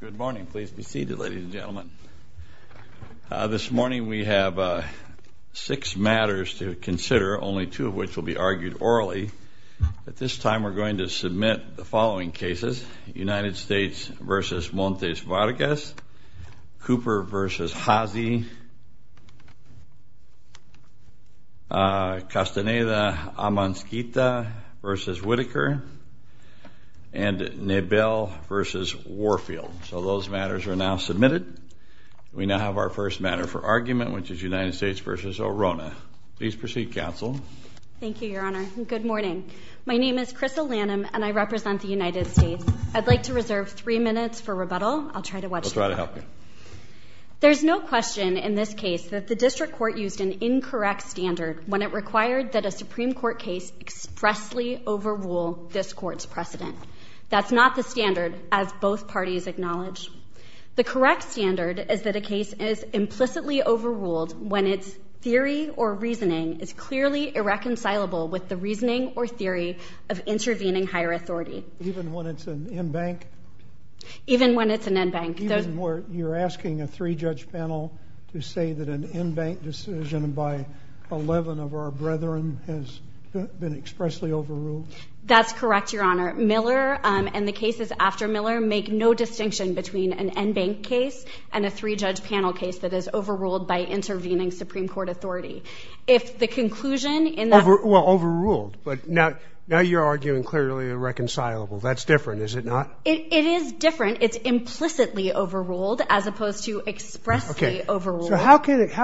Good morning. Please be seated, ladies and gentlemen. This morning we have six matters to consider, only two of which will be argued orally. At this time we're going to submit the following cases. United States v. Montes Vargas, Cooper v. Haase, Castaneda-Amonskita v. Whitaker, and Nebel v. Warfield. So those matters are now submitted. We now have our first matter for argument, which is United States v. Orona. Please proceed, counsel. Thank you, Your Honor. Good morning. My name is Crystal Lanham and I represent the United States. I'd like to reserve three minutes for rebuttal. I'll try to watch. We'll try to help you. There's no question in this case that the district court used an incorrect standard when it required that a Supreme Court case expressly overrule this court's precedent. That's not the standard, as both parties acknowledge. The correct standard is that a case is implicitly overruled when its theory or reasoning is clearly irreconcilable with the reasoning or theory of intervening higher even when it's an end bank. You're asking a three-judge panel to say that an end bank decision by 11 of our brethren has been expressly overruled? That's correct, Your Honor. Miller and the cases after Miller make no distinction between an end bank case and a three-judge panel case that is overruled by intervening Supreme Court authority. If the conclusion in that... Well, overruled, but now you're arguing clearly irreconcilable. That's different, is it not? It is different. It's implicitly overruled as opposed to expressly overruled. So how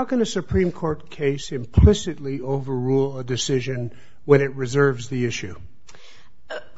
can a Supreme Court case implicitly overrule a decision when it reserves the issue?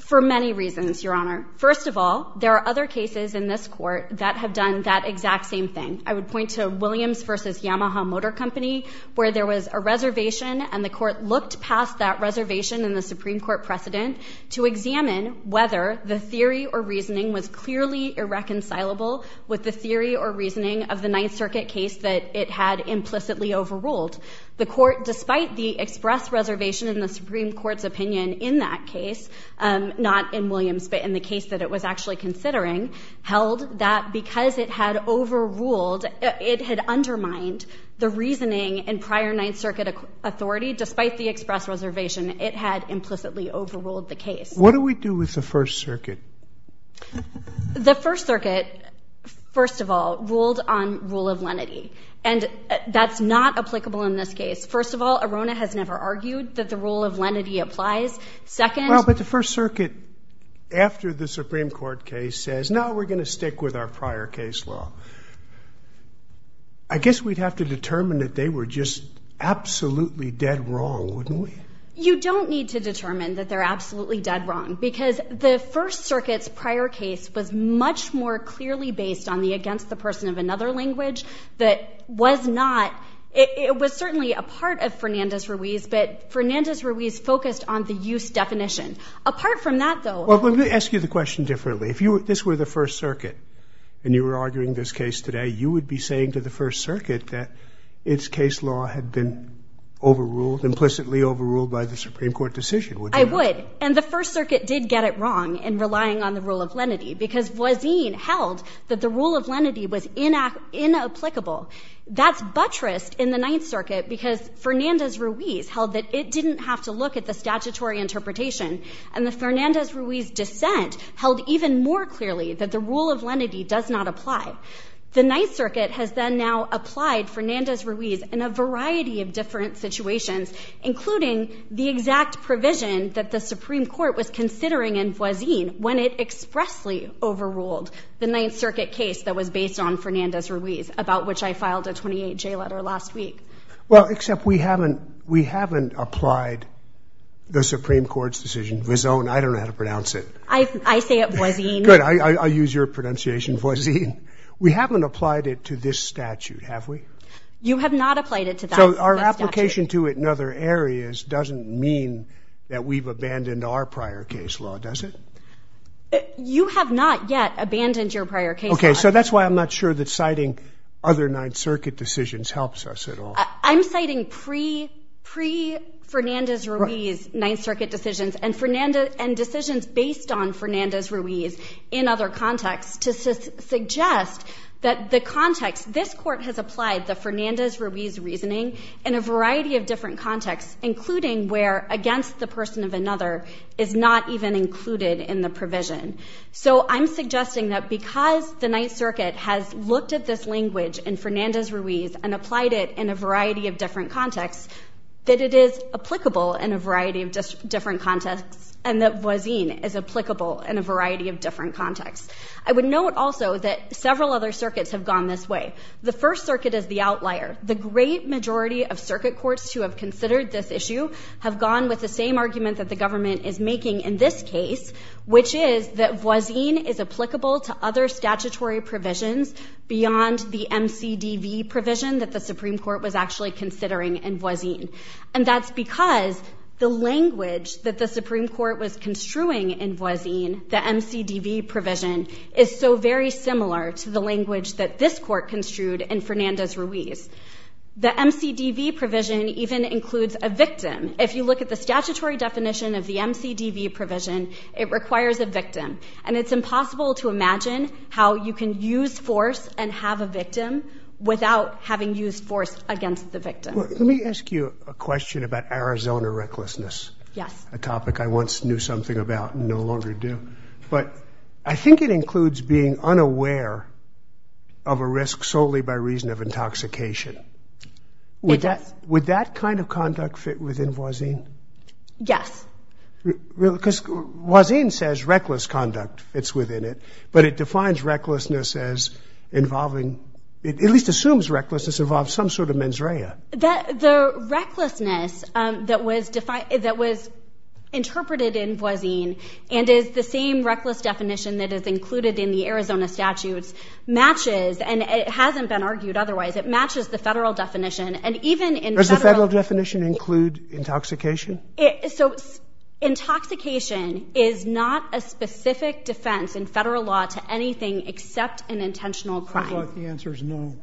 For many reasons, Your Honor. First of all, there are other cases in this court that have done that exact same thing. I would point to Williams v. Yamaha Motor Company where there was a reservation and the court looked past that reservation in the Supreme Court precedent to examine whether the theory or reasoning was clearly irreconcilable with the theory or reasoning of the Ninth Circuit case that it had implicitly overruled. The court, despite the express reservation in the Supreme Court's opinion in that case, not in Williams, but in the case that it was actually considering, held that because it had overruled, it had undermined the reasoning in prior Ninth Circuit authority despite the express reservation. It had implicitly overruled the case. What do we do with the First Circuit? The First Circuit, first of all, ruled on rule of lenity, and that's not applicable in this case. First of all, Arona has never argued that the rule of lenity applies. Second... Well, but the First Circuit, after the Supreme Court case, says, no, we're gonna stick with our prior case law. I guess we'd have to determine that they were just absolutely dead wrong, wouldn't we? You don't need to determine that they're absolutely dead wrong, because the First Circuit's prior case was much more clearly based on the against-the-person-of-another language that was not... It was certainly a part of Fernandez-Ruiz, but Fernandez-Ruiz focused on the use definition. Apart from that, though... Well, let me ask you the question differently. If this were the First Circuit and you were arguing this case today, you would be saying to the Supreme Court, would you have been overruled, implicitly overruled, by the Supreme Court decision? I would, and the First Circuit did get it wrong in relying on the rule of lenity, because Voisin held that the rule of lenity was inapplicable. That's buttressed in the Ninth Circuit, because Fernandez-Ruiz held that it didn't have to look at the statutory interpretation, and the Fernandez-Ruiz dissent held even more clearly that the rule of lenity does not apply. The Ninth Circuit has then now applied Fernandez-Ruiz in a variety of different situations, including the exact provision that the Supreme Court was considering in Voisin when it expressly overruled the Ninth Circuit case that was based on Fernandez-Ruiz, about which I filed a 28-J letter last week. Well, except we haven't applied the Supreme Court's decision, Vison. I don't know how to pronounce it. I say it Voisin. Good, I'll use your pronunciation, Voisin. We haven't applied it to this statute, have we? You have not applied it to that statute. So our application to it in other areas doesn't mean that we've abandoned our prior case law, does it? You have not yet abandoned your prior case law. Okay, so that's why I'm not sure that citing other Ninth Circuit decisions helps us at all. I'm citing pre-Fernandez-Ruiz Ninth Circuit decisions and decisions based on Fernandez-Ruiz in other contexts to suggest that the context, this court has applied the Fernandez-Ruiz reasoning in a variety of different contexts, including where against the person of another is not even included in the provision. So I'm suggesting that because the Ninth Circuit has looked at this language in Fernandez-Ruiz and applied it in a variety of different contexts, that it is applicable in a variety of different contexts and that Voisin is applicable in a variety of different contexts. I would note also that several other circuits have gone this way. The First Circuit is the outlier. The great majority of circuit courts who have considered this issue have gone with the same argument that the government is making in this case, which is that Voisin is applicable to other statutory provisions beyond the MCDV provision that the Supreme Court was actually considering in Voisin. And that's because the language that the Supreme Court was construing in Voisin, the MCDV provision, is so very similar to the language that this court construed in Fernandez-Ruiz. The MCDV provision even includes a victim. If you look at the statutory definition of the MCDV provision, it requires a victim. And it's impossible to imagine how you can use force and have a victim without having used force against the victim. Let me ask you a question about Arizona recklessness. Yes. A topic I once knew something about and no longer do. But I think it includes being unaware of a risk solely by reason of intoxication. It does. Would that kind of conduct fit within Voisin? Yes. Because Voisin says reckless conduct fits within it, but it defines recklessness as involving, it at least assumes recklessness involves some sort of mens rea. The recklessness that was defined, that was interpreted in Voisin, and is the same reckless definition that is included in the Arizona statutes, matches, and it hasn't been argued otherwise, it matches the federal definition. And even in... Does the federal definition include intoxication? So intoxication is not a specific defense in federal law to anything except an intentional crime. The answer is no.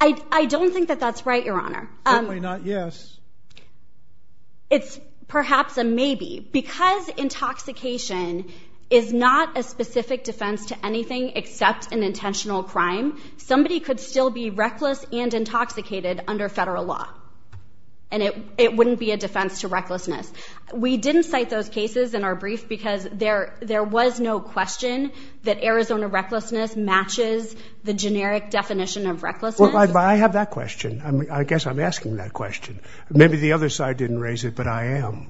I don't think that that's right, Your Honor. Yes. It's perhaps a maybe. Because intoxication is not a specific defense to anything except an intentional crime, somebody could still be reckless and intoxicated under federal law. And it wouldn't be a defense to recklessness. We didn't cite those cases in our brief because there was no question that Arizona recklessness matches the generic definition of recklessness. I have that question. I guess I'm asking that question. Maybe the other side didn't raise it, but I am.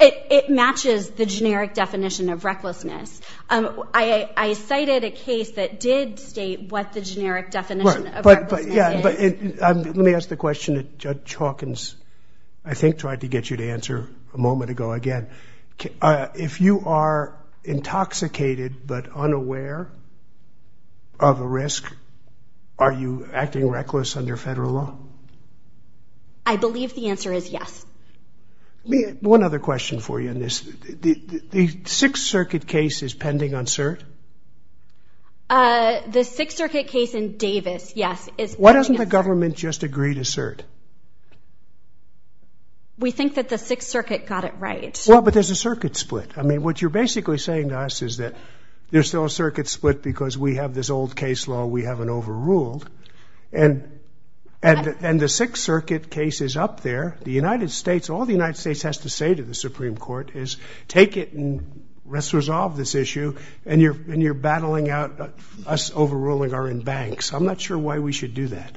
It matches the generic definition of recklessness. I cited a case that did state what the generic definition of recklessness is. Let me ask the question that Judge Hawkins, I think, tried to get you to of a risk. Are you acting reckless under federal law? I believe the answer is yes. One other question for you in this. The Sixth Circuit case is pending on cert? The Sixth Circuit case in Davis, yes. Why doesn't the government just agree to cert? We think that the Sixth Circuit got it right. Well, but there's a circuit split. I mean, what you're basically saying to us is that there's still a circuit split because we have this old case law we haven't overruled, and the Sixth Circuit case is up there. The United States, all the United States has to say to the Supreme Court is take it and let's resolve this issue, and you're battling out us overruling our in banks. I'm not sure why we should do that.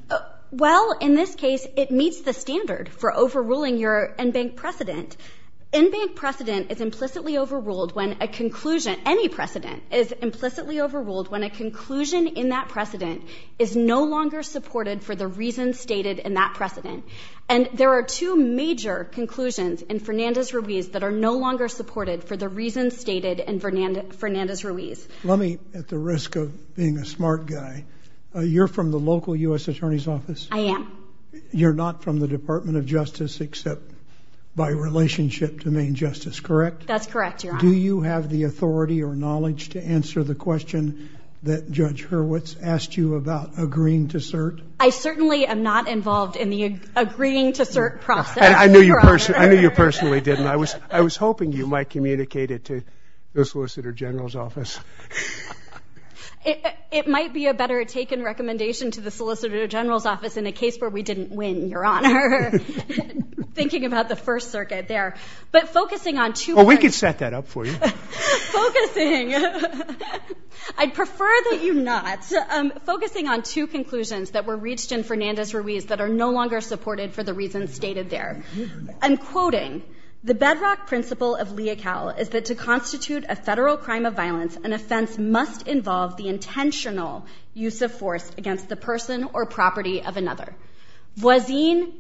Well, in this case, it meets the standard for overruling your in-bank precedent. In-bank precedent is implicitly overruled when a conclusion, any precedent, is implicitly overruled when a conclusion in that precedent is no longer supported for the reasons stated in that precedent. And there are two major conclusions in Fernandez-Ruiz that are no longer supported for the reasons stated in Fernandez-Ruiz. Let me, at the risk of being a smart guy, you're from the local U.S. Attorney's Office? I am. You're not from the Department of Justice except by relationship to main justice, correct? That's correct, Your Honor. Do you have the authority or knowledge to answer the question that Judge Hurwitz asked you about agreeing to cert? I certainly am not involved in the agreeing to cert process, Your Honor. I knew you personally didn't. I was hoping you might communicate it to the Solicitor General's Office. It might be a better taken recommendation to the Solicitor General's Office in a case where we didn't win, Your Honor, thinking about the First Circuit there. But focusing on two... Well, we could set that up for you. Focusing. I'd prefer that you not. Focusing on two conclusions that were reached in Fernandez-Ruiz that are no longer supported for the reasons stated there. I'm quoting, the bedrock principle of lea cal is that to constitute a federal crime of violence, an offense must involve the intentional use of force against the person or property of another. Voisin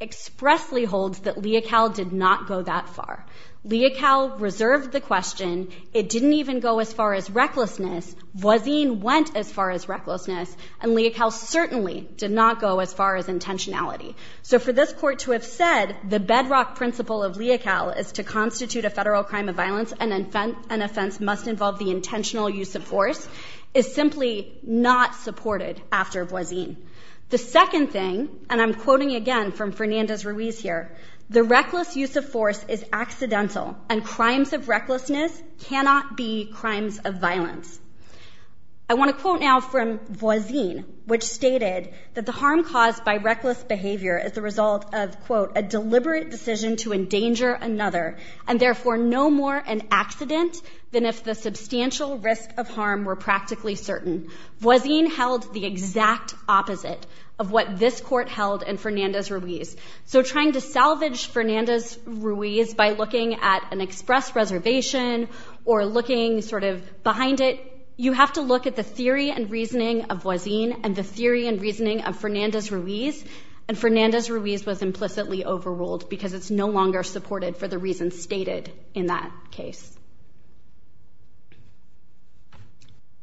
expressly holds that lea cal did not go that far. Lea cal reserved the question. It didn't even go as far as recklessness. Voisin went as far as recklessness and lea cal certainly did not go as far as intentionality. So for this court to have said the bedrock principle of lea cal is to constitute a federal crime of violence and an offense must involve the intentional use of force is simply not supported after voisin. The second thing, and I'm quoting again from Fernandez-Ruiz here, the reckless use of force is accidental and crimes of recklessness cannot be crimes of violence. I want to quote now from voisin which stated that the harm caused by reckless behavior is the result of a deliberate decision to endanger another and therefore no more an accident than if the substantial risk of harm were practically certain. Voisin held the So trying to salvage Fernandez-Ruiz by looking at an express reservation or looking sort of behind it, you have to look at the theory and reasoning of voisin and the theory and reasoning of Fernandez-Ruiz and Fernandez-Ruiz was implicitly overruled because it's no longer supported for the reasons stated in that case.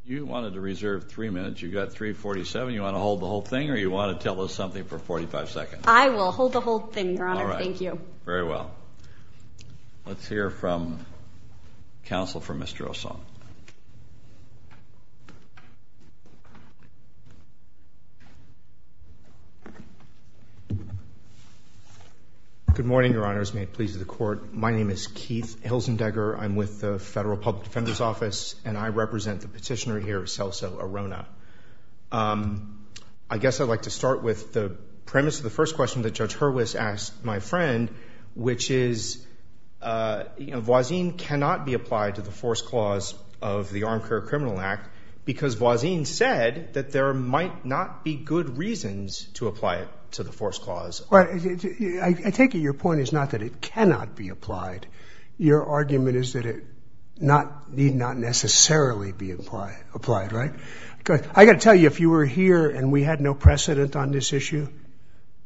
You wanted to reserve three minutes. You've got 347. You want to hold the whole thing or you want to tell us something for 45 seconds? I will hold the whole thing, Your Honor. Thank you. Very well. Let's hear from counsel for Mr. O'Sull. Good morning, Your Honors. May it please the Court. My name is Keith Hilsendegger. I'm with the Federal Public Defender's Office and I represent the petitioner Celso Arona. I guess I'd like to start with the premise of the first question that Judge Hurwitz asked my friend, which is, you know, voisin cannot be applied to the force clause of the Armed Career Criminal Act because voisin said that there might not be good reasons to apply it to the force clause. Well, I take it your point is not that it cannot be applied. Your argument is that it not necessarily be applied, right? I got to tell you, if you were here and we had no precedent on this issue,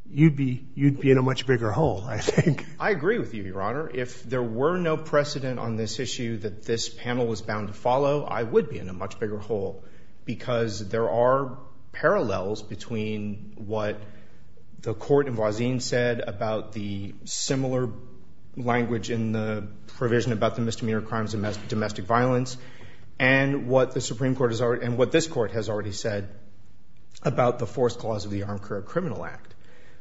you'd be in a much bigger hole, I think. I agree with you, Your Honor. If there were no precedent on this issue that this panel was bound to follow, I would be in a much bigger hole because there are parallels between what the court and voisin said about the similar language in the misdemeanor crimes and domestic violence and what the Supreme Court has already and what this court has already said about the force clause of the Armed Career Criminal Act.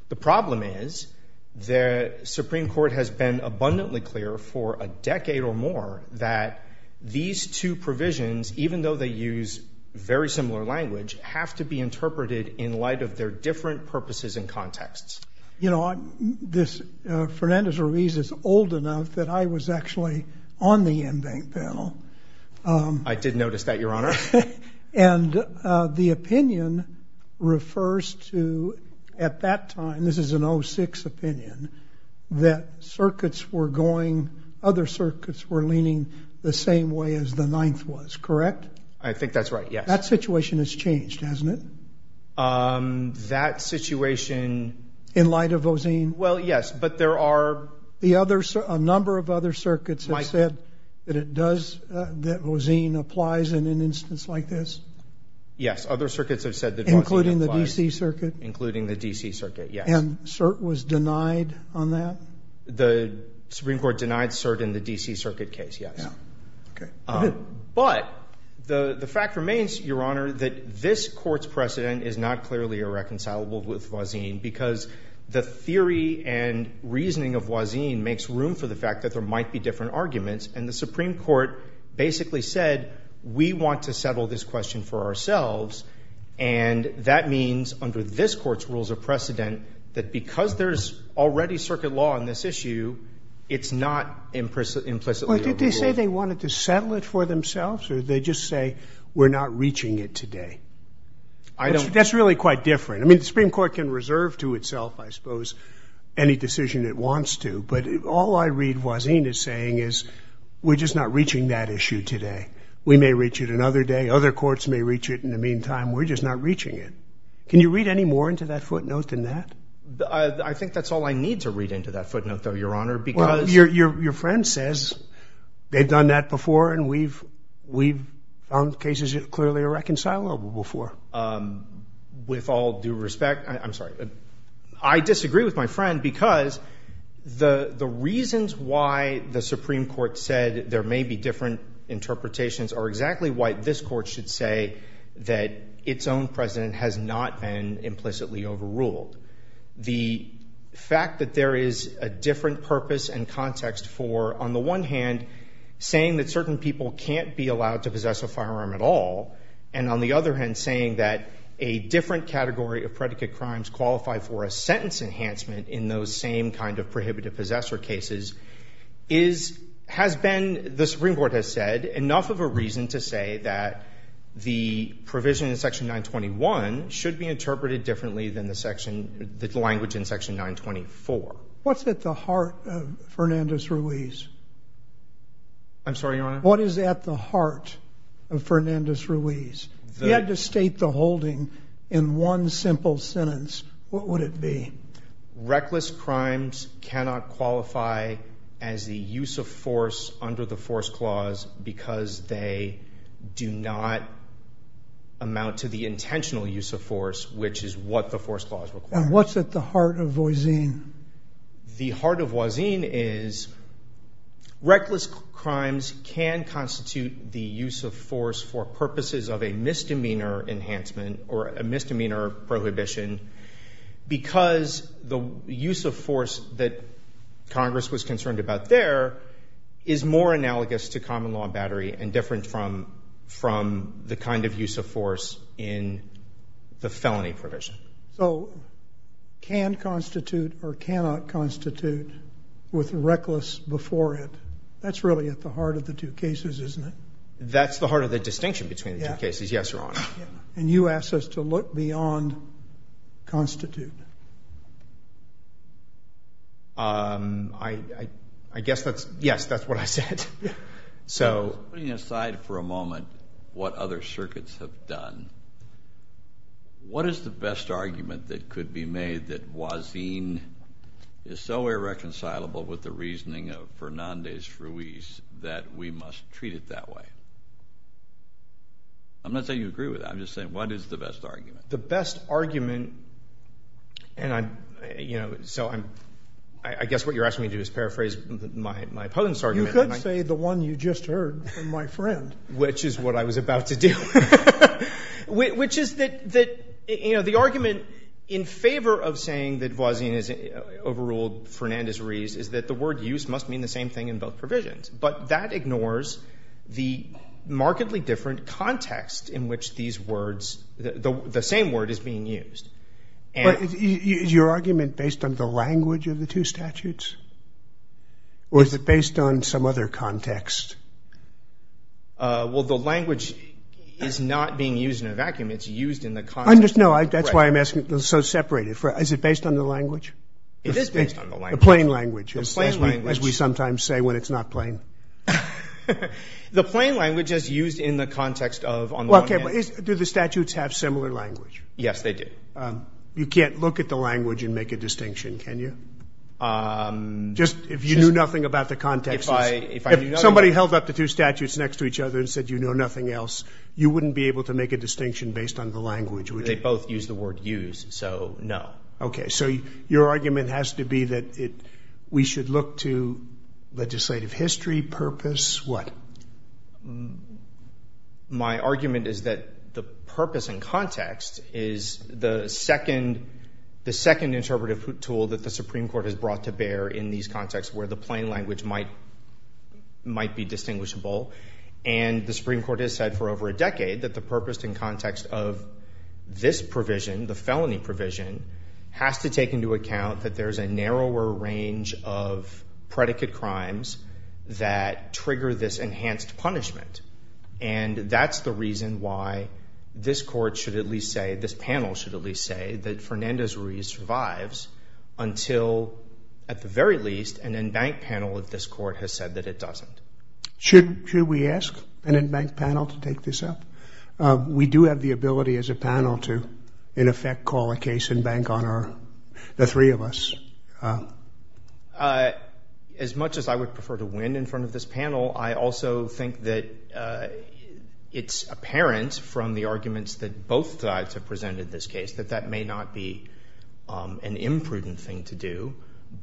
The problem is the Supreme Court has been abundantly clear for a decade or more that these two provisions, even though they use very similar language, have to be interpreted in light of their different purposes and on the embanked panel. I did notice that, Your Honor. And the opinion refers to, at that time, this is an 06 opinion, that circuits were going, other circuits were leaning the same way as the ninth was, correct? I think that's right, yes. That situation has changed, hasn't it? That situation... In light of voisin? Well, yes, but there are... A number of other circuits have said that voisin applies in an instance like this? Yes, other circuits have said that voisin applies. Including the DC Circuit? Including the DC Circuit, yes. And cert was denied on that? The Supreme Court denied cert in the DC Circuit case, yes. But the fact remains, Your Honor, that this court's precedent is not clearly irreconcilable with voisin because the reasoning of voisin makes room for the fact that there might be different arguments, and the Supreme Court basically said, we want to settle this question for ourselves, and that means, under this court's rules of precedent, that because there's already circuit law on this issue, it's not implicitly irreconcilable. Did they say they wanted to settle it for themselves, or did they just say, we're not reaching it today? I don't... That's really quite different. I mean, the Supreme Court can reserve to itself, I suppose, any decision it wants to, but all I read voisin is saying is, we're just not reaching that issue today. We may reach it another day. Other courts may reach it in the meantime. We're just not reaching it. Can you read any more into that footnote than that? I think that's all I need to read into that footnote, though, Your Honor, because... Well, your friend says they've done that before, and we've found cases clearly irreconcilable before. With all due respect, I'm sorry, I disagree with my friend because the the reasons why the Supreme Court said there may be different interpretations are exactly why this court should say that its own precedent has not been implicitly overruled. The fact that there is a different purpose and context for, on the one hand, saying that certain people can't be allowed to possess a that a different category of predicate crimes qualify for a sentence enhancement in those same kind of prohibitive possessor cases has been, the Supreme Court has said, enough of a reason to say that the provision in Section 921 should be interpreted differently than the language in Section 924. What's at the heart of Fernandez-Ruiz? I'm sorry, Your Honor? What is at the heart of holding in one simple sentence? What would it be? Reckless crimes cannot qualify as the use of force under the Force Clause because they do not amount to the intentional use of force, which is what the Force Clause requires. And what's at the heart of Voisin? The heart of Voisin is reckless crimes can constitute the misdemeanor enhancement or a misdemeanor prohibition because the use of force that Congress was concerned about there is more analogous to common law battery and different from the kind of use of force in the felony provision. So can constitute or cannot constitute with reckless before it. That's really at the heart of the two cases, isn't it? That's the heart of the distinction between the two cases, yes, Your Honor. And you asked us to look beyond constitute. I guess that's yes, that's what I said. Putting aside for a moment what other circuits have done, what is the best argument that could be made that Voisin is so irreconcilable with the What is the best argument? The best argument, and I'm, you know, so I'm, I guess what you're asking me to do is paraphrase my opponent's argument. You could say the one you just heard from my friend. Which is what I was about to do. Which is that, you know, the argument in favor of saying that Voisin is overruled Fernandez-Rees is that the word use must mean the same thing in both provisions, but that ignores the markedly different context in which these words, the same word is being used. But is your argument based on the language of the two statutes? Or is it based on some other context? Well, the language is not being used in a vacuum. It's used in the context of the question. No, that's why I'm asking, so separate. Is it based on the language? It is based on the language. The plain language. The plain language. As we sometimes say when it's not plain. The plain language is used in the context of, on the one hand. Okay, but do the statutes have similar language? Yes, they do. You can't look at the language and make a distinction, can you? Just if you knew nothing about the context. If somebody held up the two statutes next to each other and said you know nothing else, you wouldn't be able to make a distinction based on the language, would you? They both use the word use, so no. Okay, so your argument has to be that we should look to legislative history, purpose, what? My argument is that the purpose and context is the second interpretive tool that the Supreme Court has brought to bear in these contexts where the plain language might be distinguishable. And the Supreme Court has said for over a decade that the purpose and context of this provision, the felony provision, has to take into account that there's a narrower range of predicate crimes that trigger this enhanced punishment. And that's the reason why this court should at least say, this panel should at least say that Fernandez-Ruiz survives until, at the very least, an embanked panel of this court has said that it doesn't. Should we ask an embanked panel to take this up? We do have the ability as a panel to, in effect, call a case and bank on the three of us. As much as I would prefer to win in front of this panel, I also think that it's apparent from the arguments that both sides have presented in this case that that may not be an imprudent thing to do.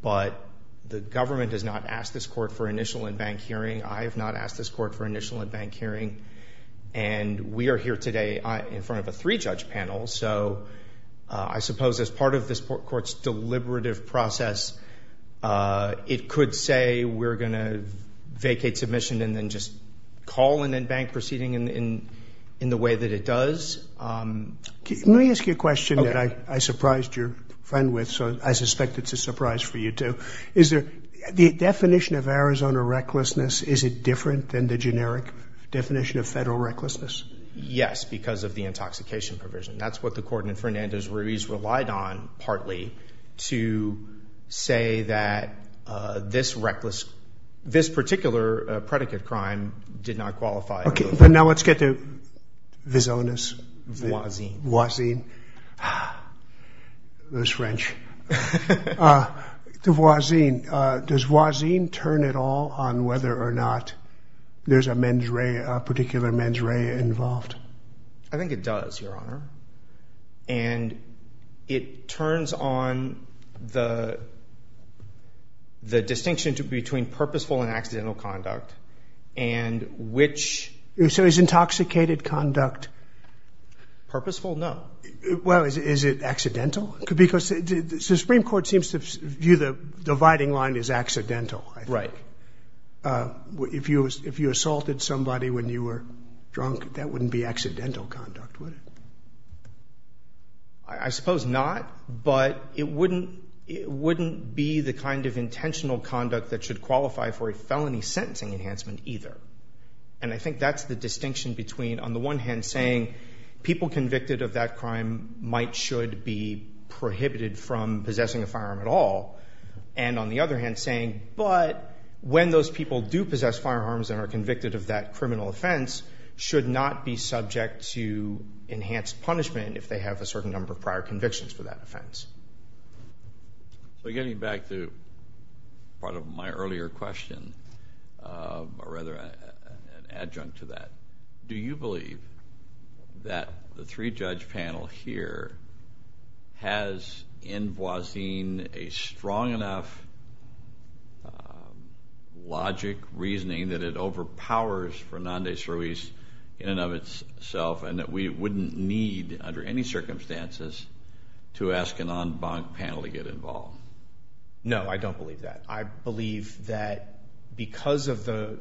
But the government has not asked this court for initial embanked hearing. And we are here today in front of a three-judge panel, so I suppose as part of this court's deliberative process, it could say we're going to vacate submission and then just call an embanked proceeding in the way that it does. Let me ask you a question that I surprised your friend with, so I suspect it's a surprise for you too. Is there, the definition of Arizona recklessness, is it different than the generic definition of federal recklessness? Yes, because of the intoxication provision. That's what the court in Fernandez-Ruiz relied on, partly, to say that this reckless, this particular predicate crime did not qualify. Okay, but now let's get to Visonas. Voisin. Voisin. Those French. To Voisin, does Voisin turn at all on whether or not there's a mens rea, a particular mens rea involved? I think it does, Your Honor. And it turns on the distinction between purposeful and accidental conduct, and which. So is intoxicated conduct? Purposeful? No. Well, is it accidental? Because the Supreme Court seems to view the dividing line as accidental, I think. Right. If you assaulted somebody when you were drunk, that wouldn't be accidental conduct, would it? I suppose not, but it wouldn't be the kind of intentional conduct that should qualify for a felony sentencing enhancement either. And I think that's the distinction between, on the one hand, saying people convicted of that crime might should be prohibited from possessing a firearm at all, and on the other hand, saying, but when those people do possess firearms and are convicted of that criminal offense, should not be subject to enhanced punishment if they have a certain number of prior convictions for that offense. So getting back to part of my earlier question, or rather an adjunct to that, do you believe that the three-judge panel here has in Boisille a strong enough logic, reasoning that it overpowers Fernandez-Ruiz in and of itself, and that we wouldn't need, under any circumstances, to ask an en banc panel to get involved? No, I don't believe that. I believe that because of the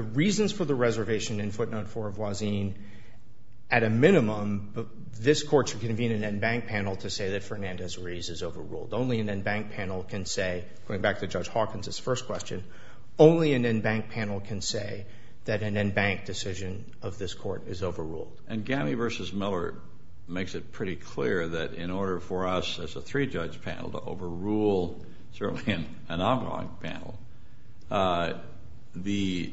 reasons for the reservation in footnote four of Boisille, at a minimum, this court should convene an en banc panel to say that Fernandez-Ruiz is overruled. Only an en banc panel can say, going back to Judge Hawkins' first question, only an en banc panel can say that an en banc decision of this court is overruled. And Gamme versus Miller makes it pretty clear that in order for us as a three-judge panel to overrule certainly an en banc panel, the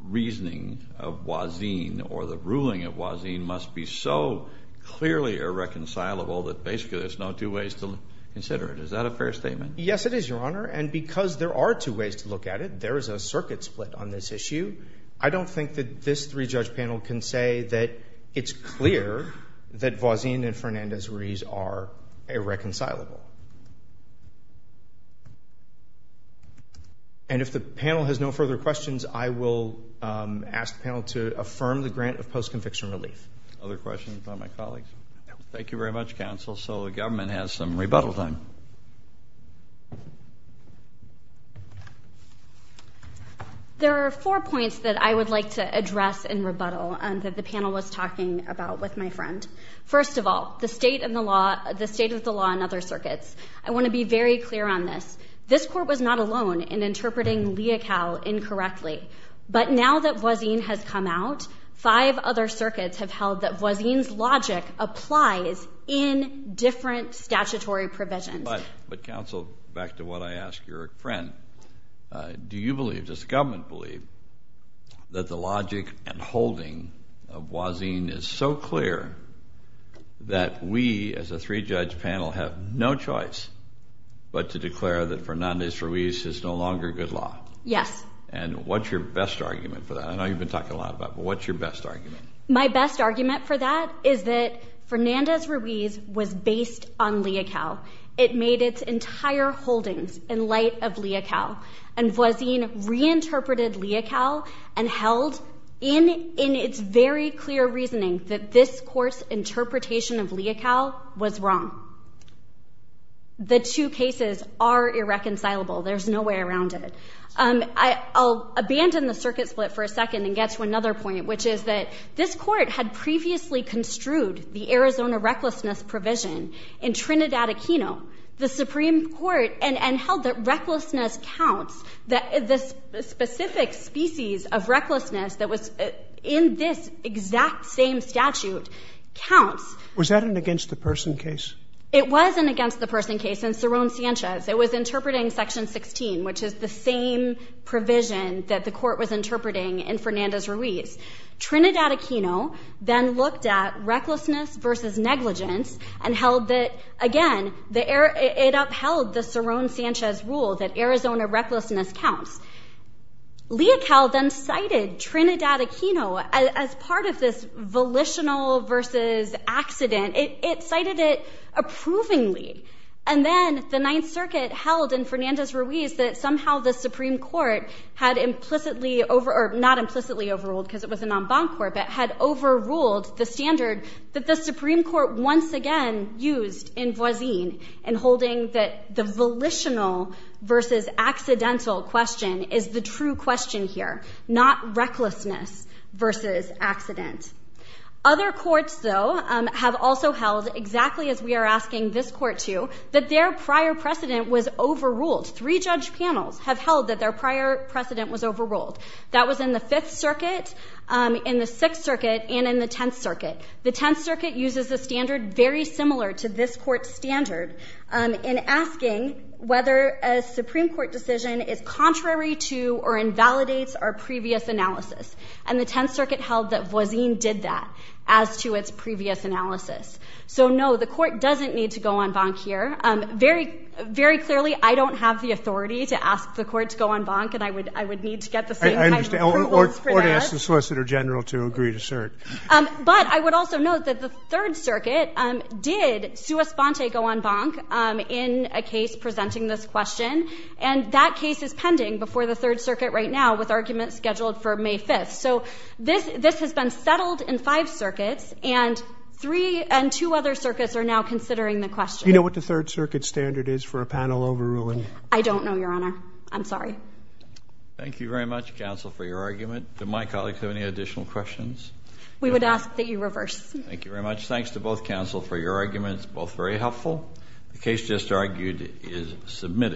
reasoning of Wazin or the ruling of Wazin must be so clearly irreconcilable that basically there's no two ways to consider it. Is that a fair statement? Yes, it is, Your Honor. And because there are two ways to look at it, there is a circuit split on this issue. I don't think that this three-judge panel can say that it's clear that Wazin and Fernandez-Ruiz are irreconcilable. And if the panel has no further questions, I will ask the panel to affirm the grant of post-conviction relief. Other questions by my colleagues? No. Thank you very much, counsel. So the government has some rebuttal time. There are four points that I would like to address in rebuttal that the panel was talking about with my friend. First of all, the state and the law, the state of the law and other circuits. I want to be very clear on this. This court was not alone in interpreting Leocal incorrectly. But now that Wazin has come out, five other circuits have held that Wazin's logic applies in different statutory provisions. But counsel, back to what I asked your friend, do you believe, does the government believe that the logic and holding of Wazin is so clear that we, as a three-judge panel, have no choice but to declare that Fernandez-Ruiz is no longer good law? Yes. And what's your best argument for that? I know you've been talking a lot about it, but what's your best argument? My best argument for that is that Fernandez-Ruiz was based on Leocal. It made its entire holdings in light of Leocal. And Wazin reinterpreted Leocal and held in its very clear reasoning that this court's interpretation of Leocal was wrong. The two cases are irreconcilable. There's no way around it. I'll abandon the circuit split for a second and get to another point, which is that this court had previously construed the Arizona recklessness provision in Trinidad Aquino, the Supreme Court, and held that recklessness counts, that the specific species of recklessness that was in this exact same statute counts. Was that an against-the-person case? It was an against-the-person case in Cerrone-Sanchez. It was interpreting Section 16, which is the same provision that the court was interpreting in Fernandez-Ruiz. Trinidad Aquino then looked at recklessness versus negligence and held that, again, it upheld the Cerrone-Sanchez rule that Arizona recklessness counts. Leocal then cited Trinidad Aquino as part of this volitional versus accident. It cited it approvingly. And then the Ninth Circuit held in Fernandez-Ruiz that somehow the Supreme Court had implicitly over, or not implicitly overruled because it was a non-bond court, but had overruled the standard that the Supreme Court once again used in Voisin in holding that the volitional versus accidental question is the true question here, not recklessness versus accident. Other courts, though, have also held, exactly as we are asking this court to, that their prior precedent was overruled. Three judge panels have held that their prior precedent was overruled. That was in the Fifth Circuit, in the Sixth Circuit, and in the Tenth Circuit. The Tenth Circuit uses a standard very similar to this court's standard in asking whether a Supreme Court decision is contrary to or invalidates our previous analysis. And the Tenth Circuit held that Voisin did that as to its previous analysis. So, no, the court doesn't need to go en banc here. Very clearly, I don't have the authority to ask the court to go en banc, and I would need to get the same kind of proof as previous. I understand. Or ask the Solicitor General to agree to cert. But I would also note that the Third Circuit did, sua sponte, go en banc in a case presenting this question. And that case is pending before the Third Circuit right now, with arguments scheduled for May 5th. So, this has been settled in five circuits, and three and two other circuits are now considering the question. Do you know what the Third Circuit standard is for a panel overruling? I don't know, Your Honor. I'm sorry. Thank you very much, counsel, for your argument. Do my colleagues have any additional questions? We would ask that you reverse. Thank you very much. Thanks to both counsel for your arguments, both very helpful. The case just argued is submitted.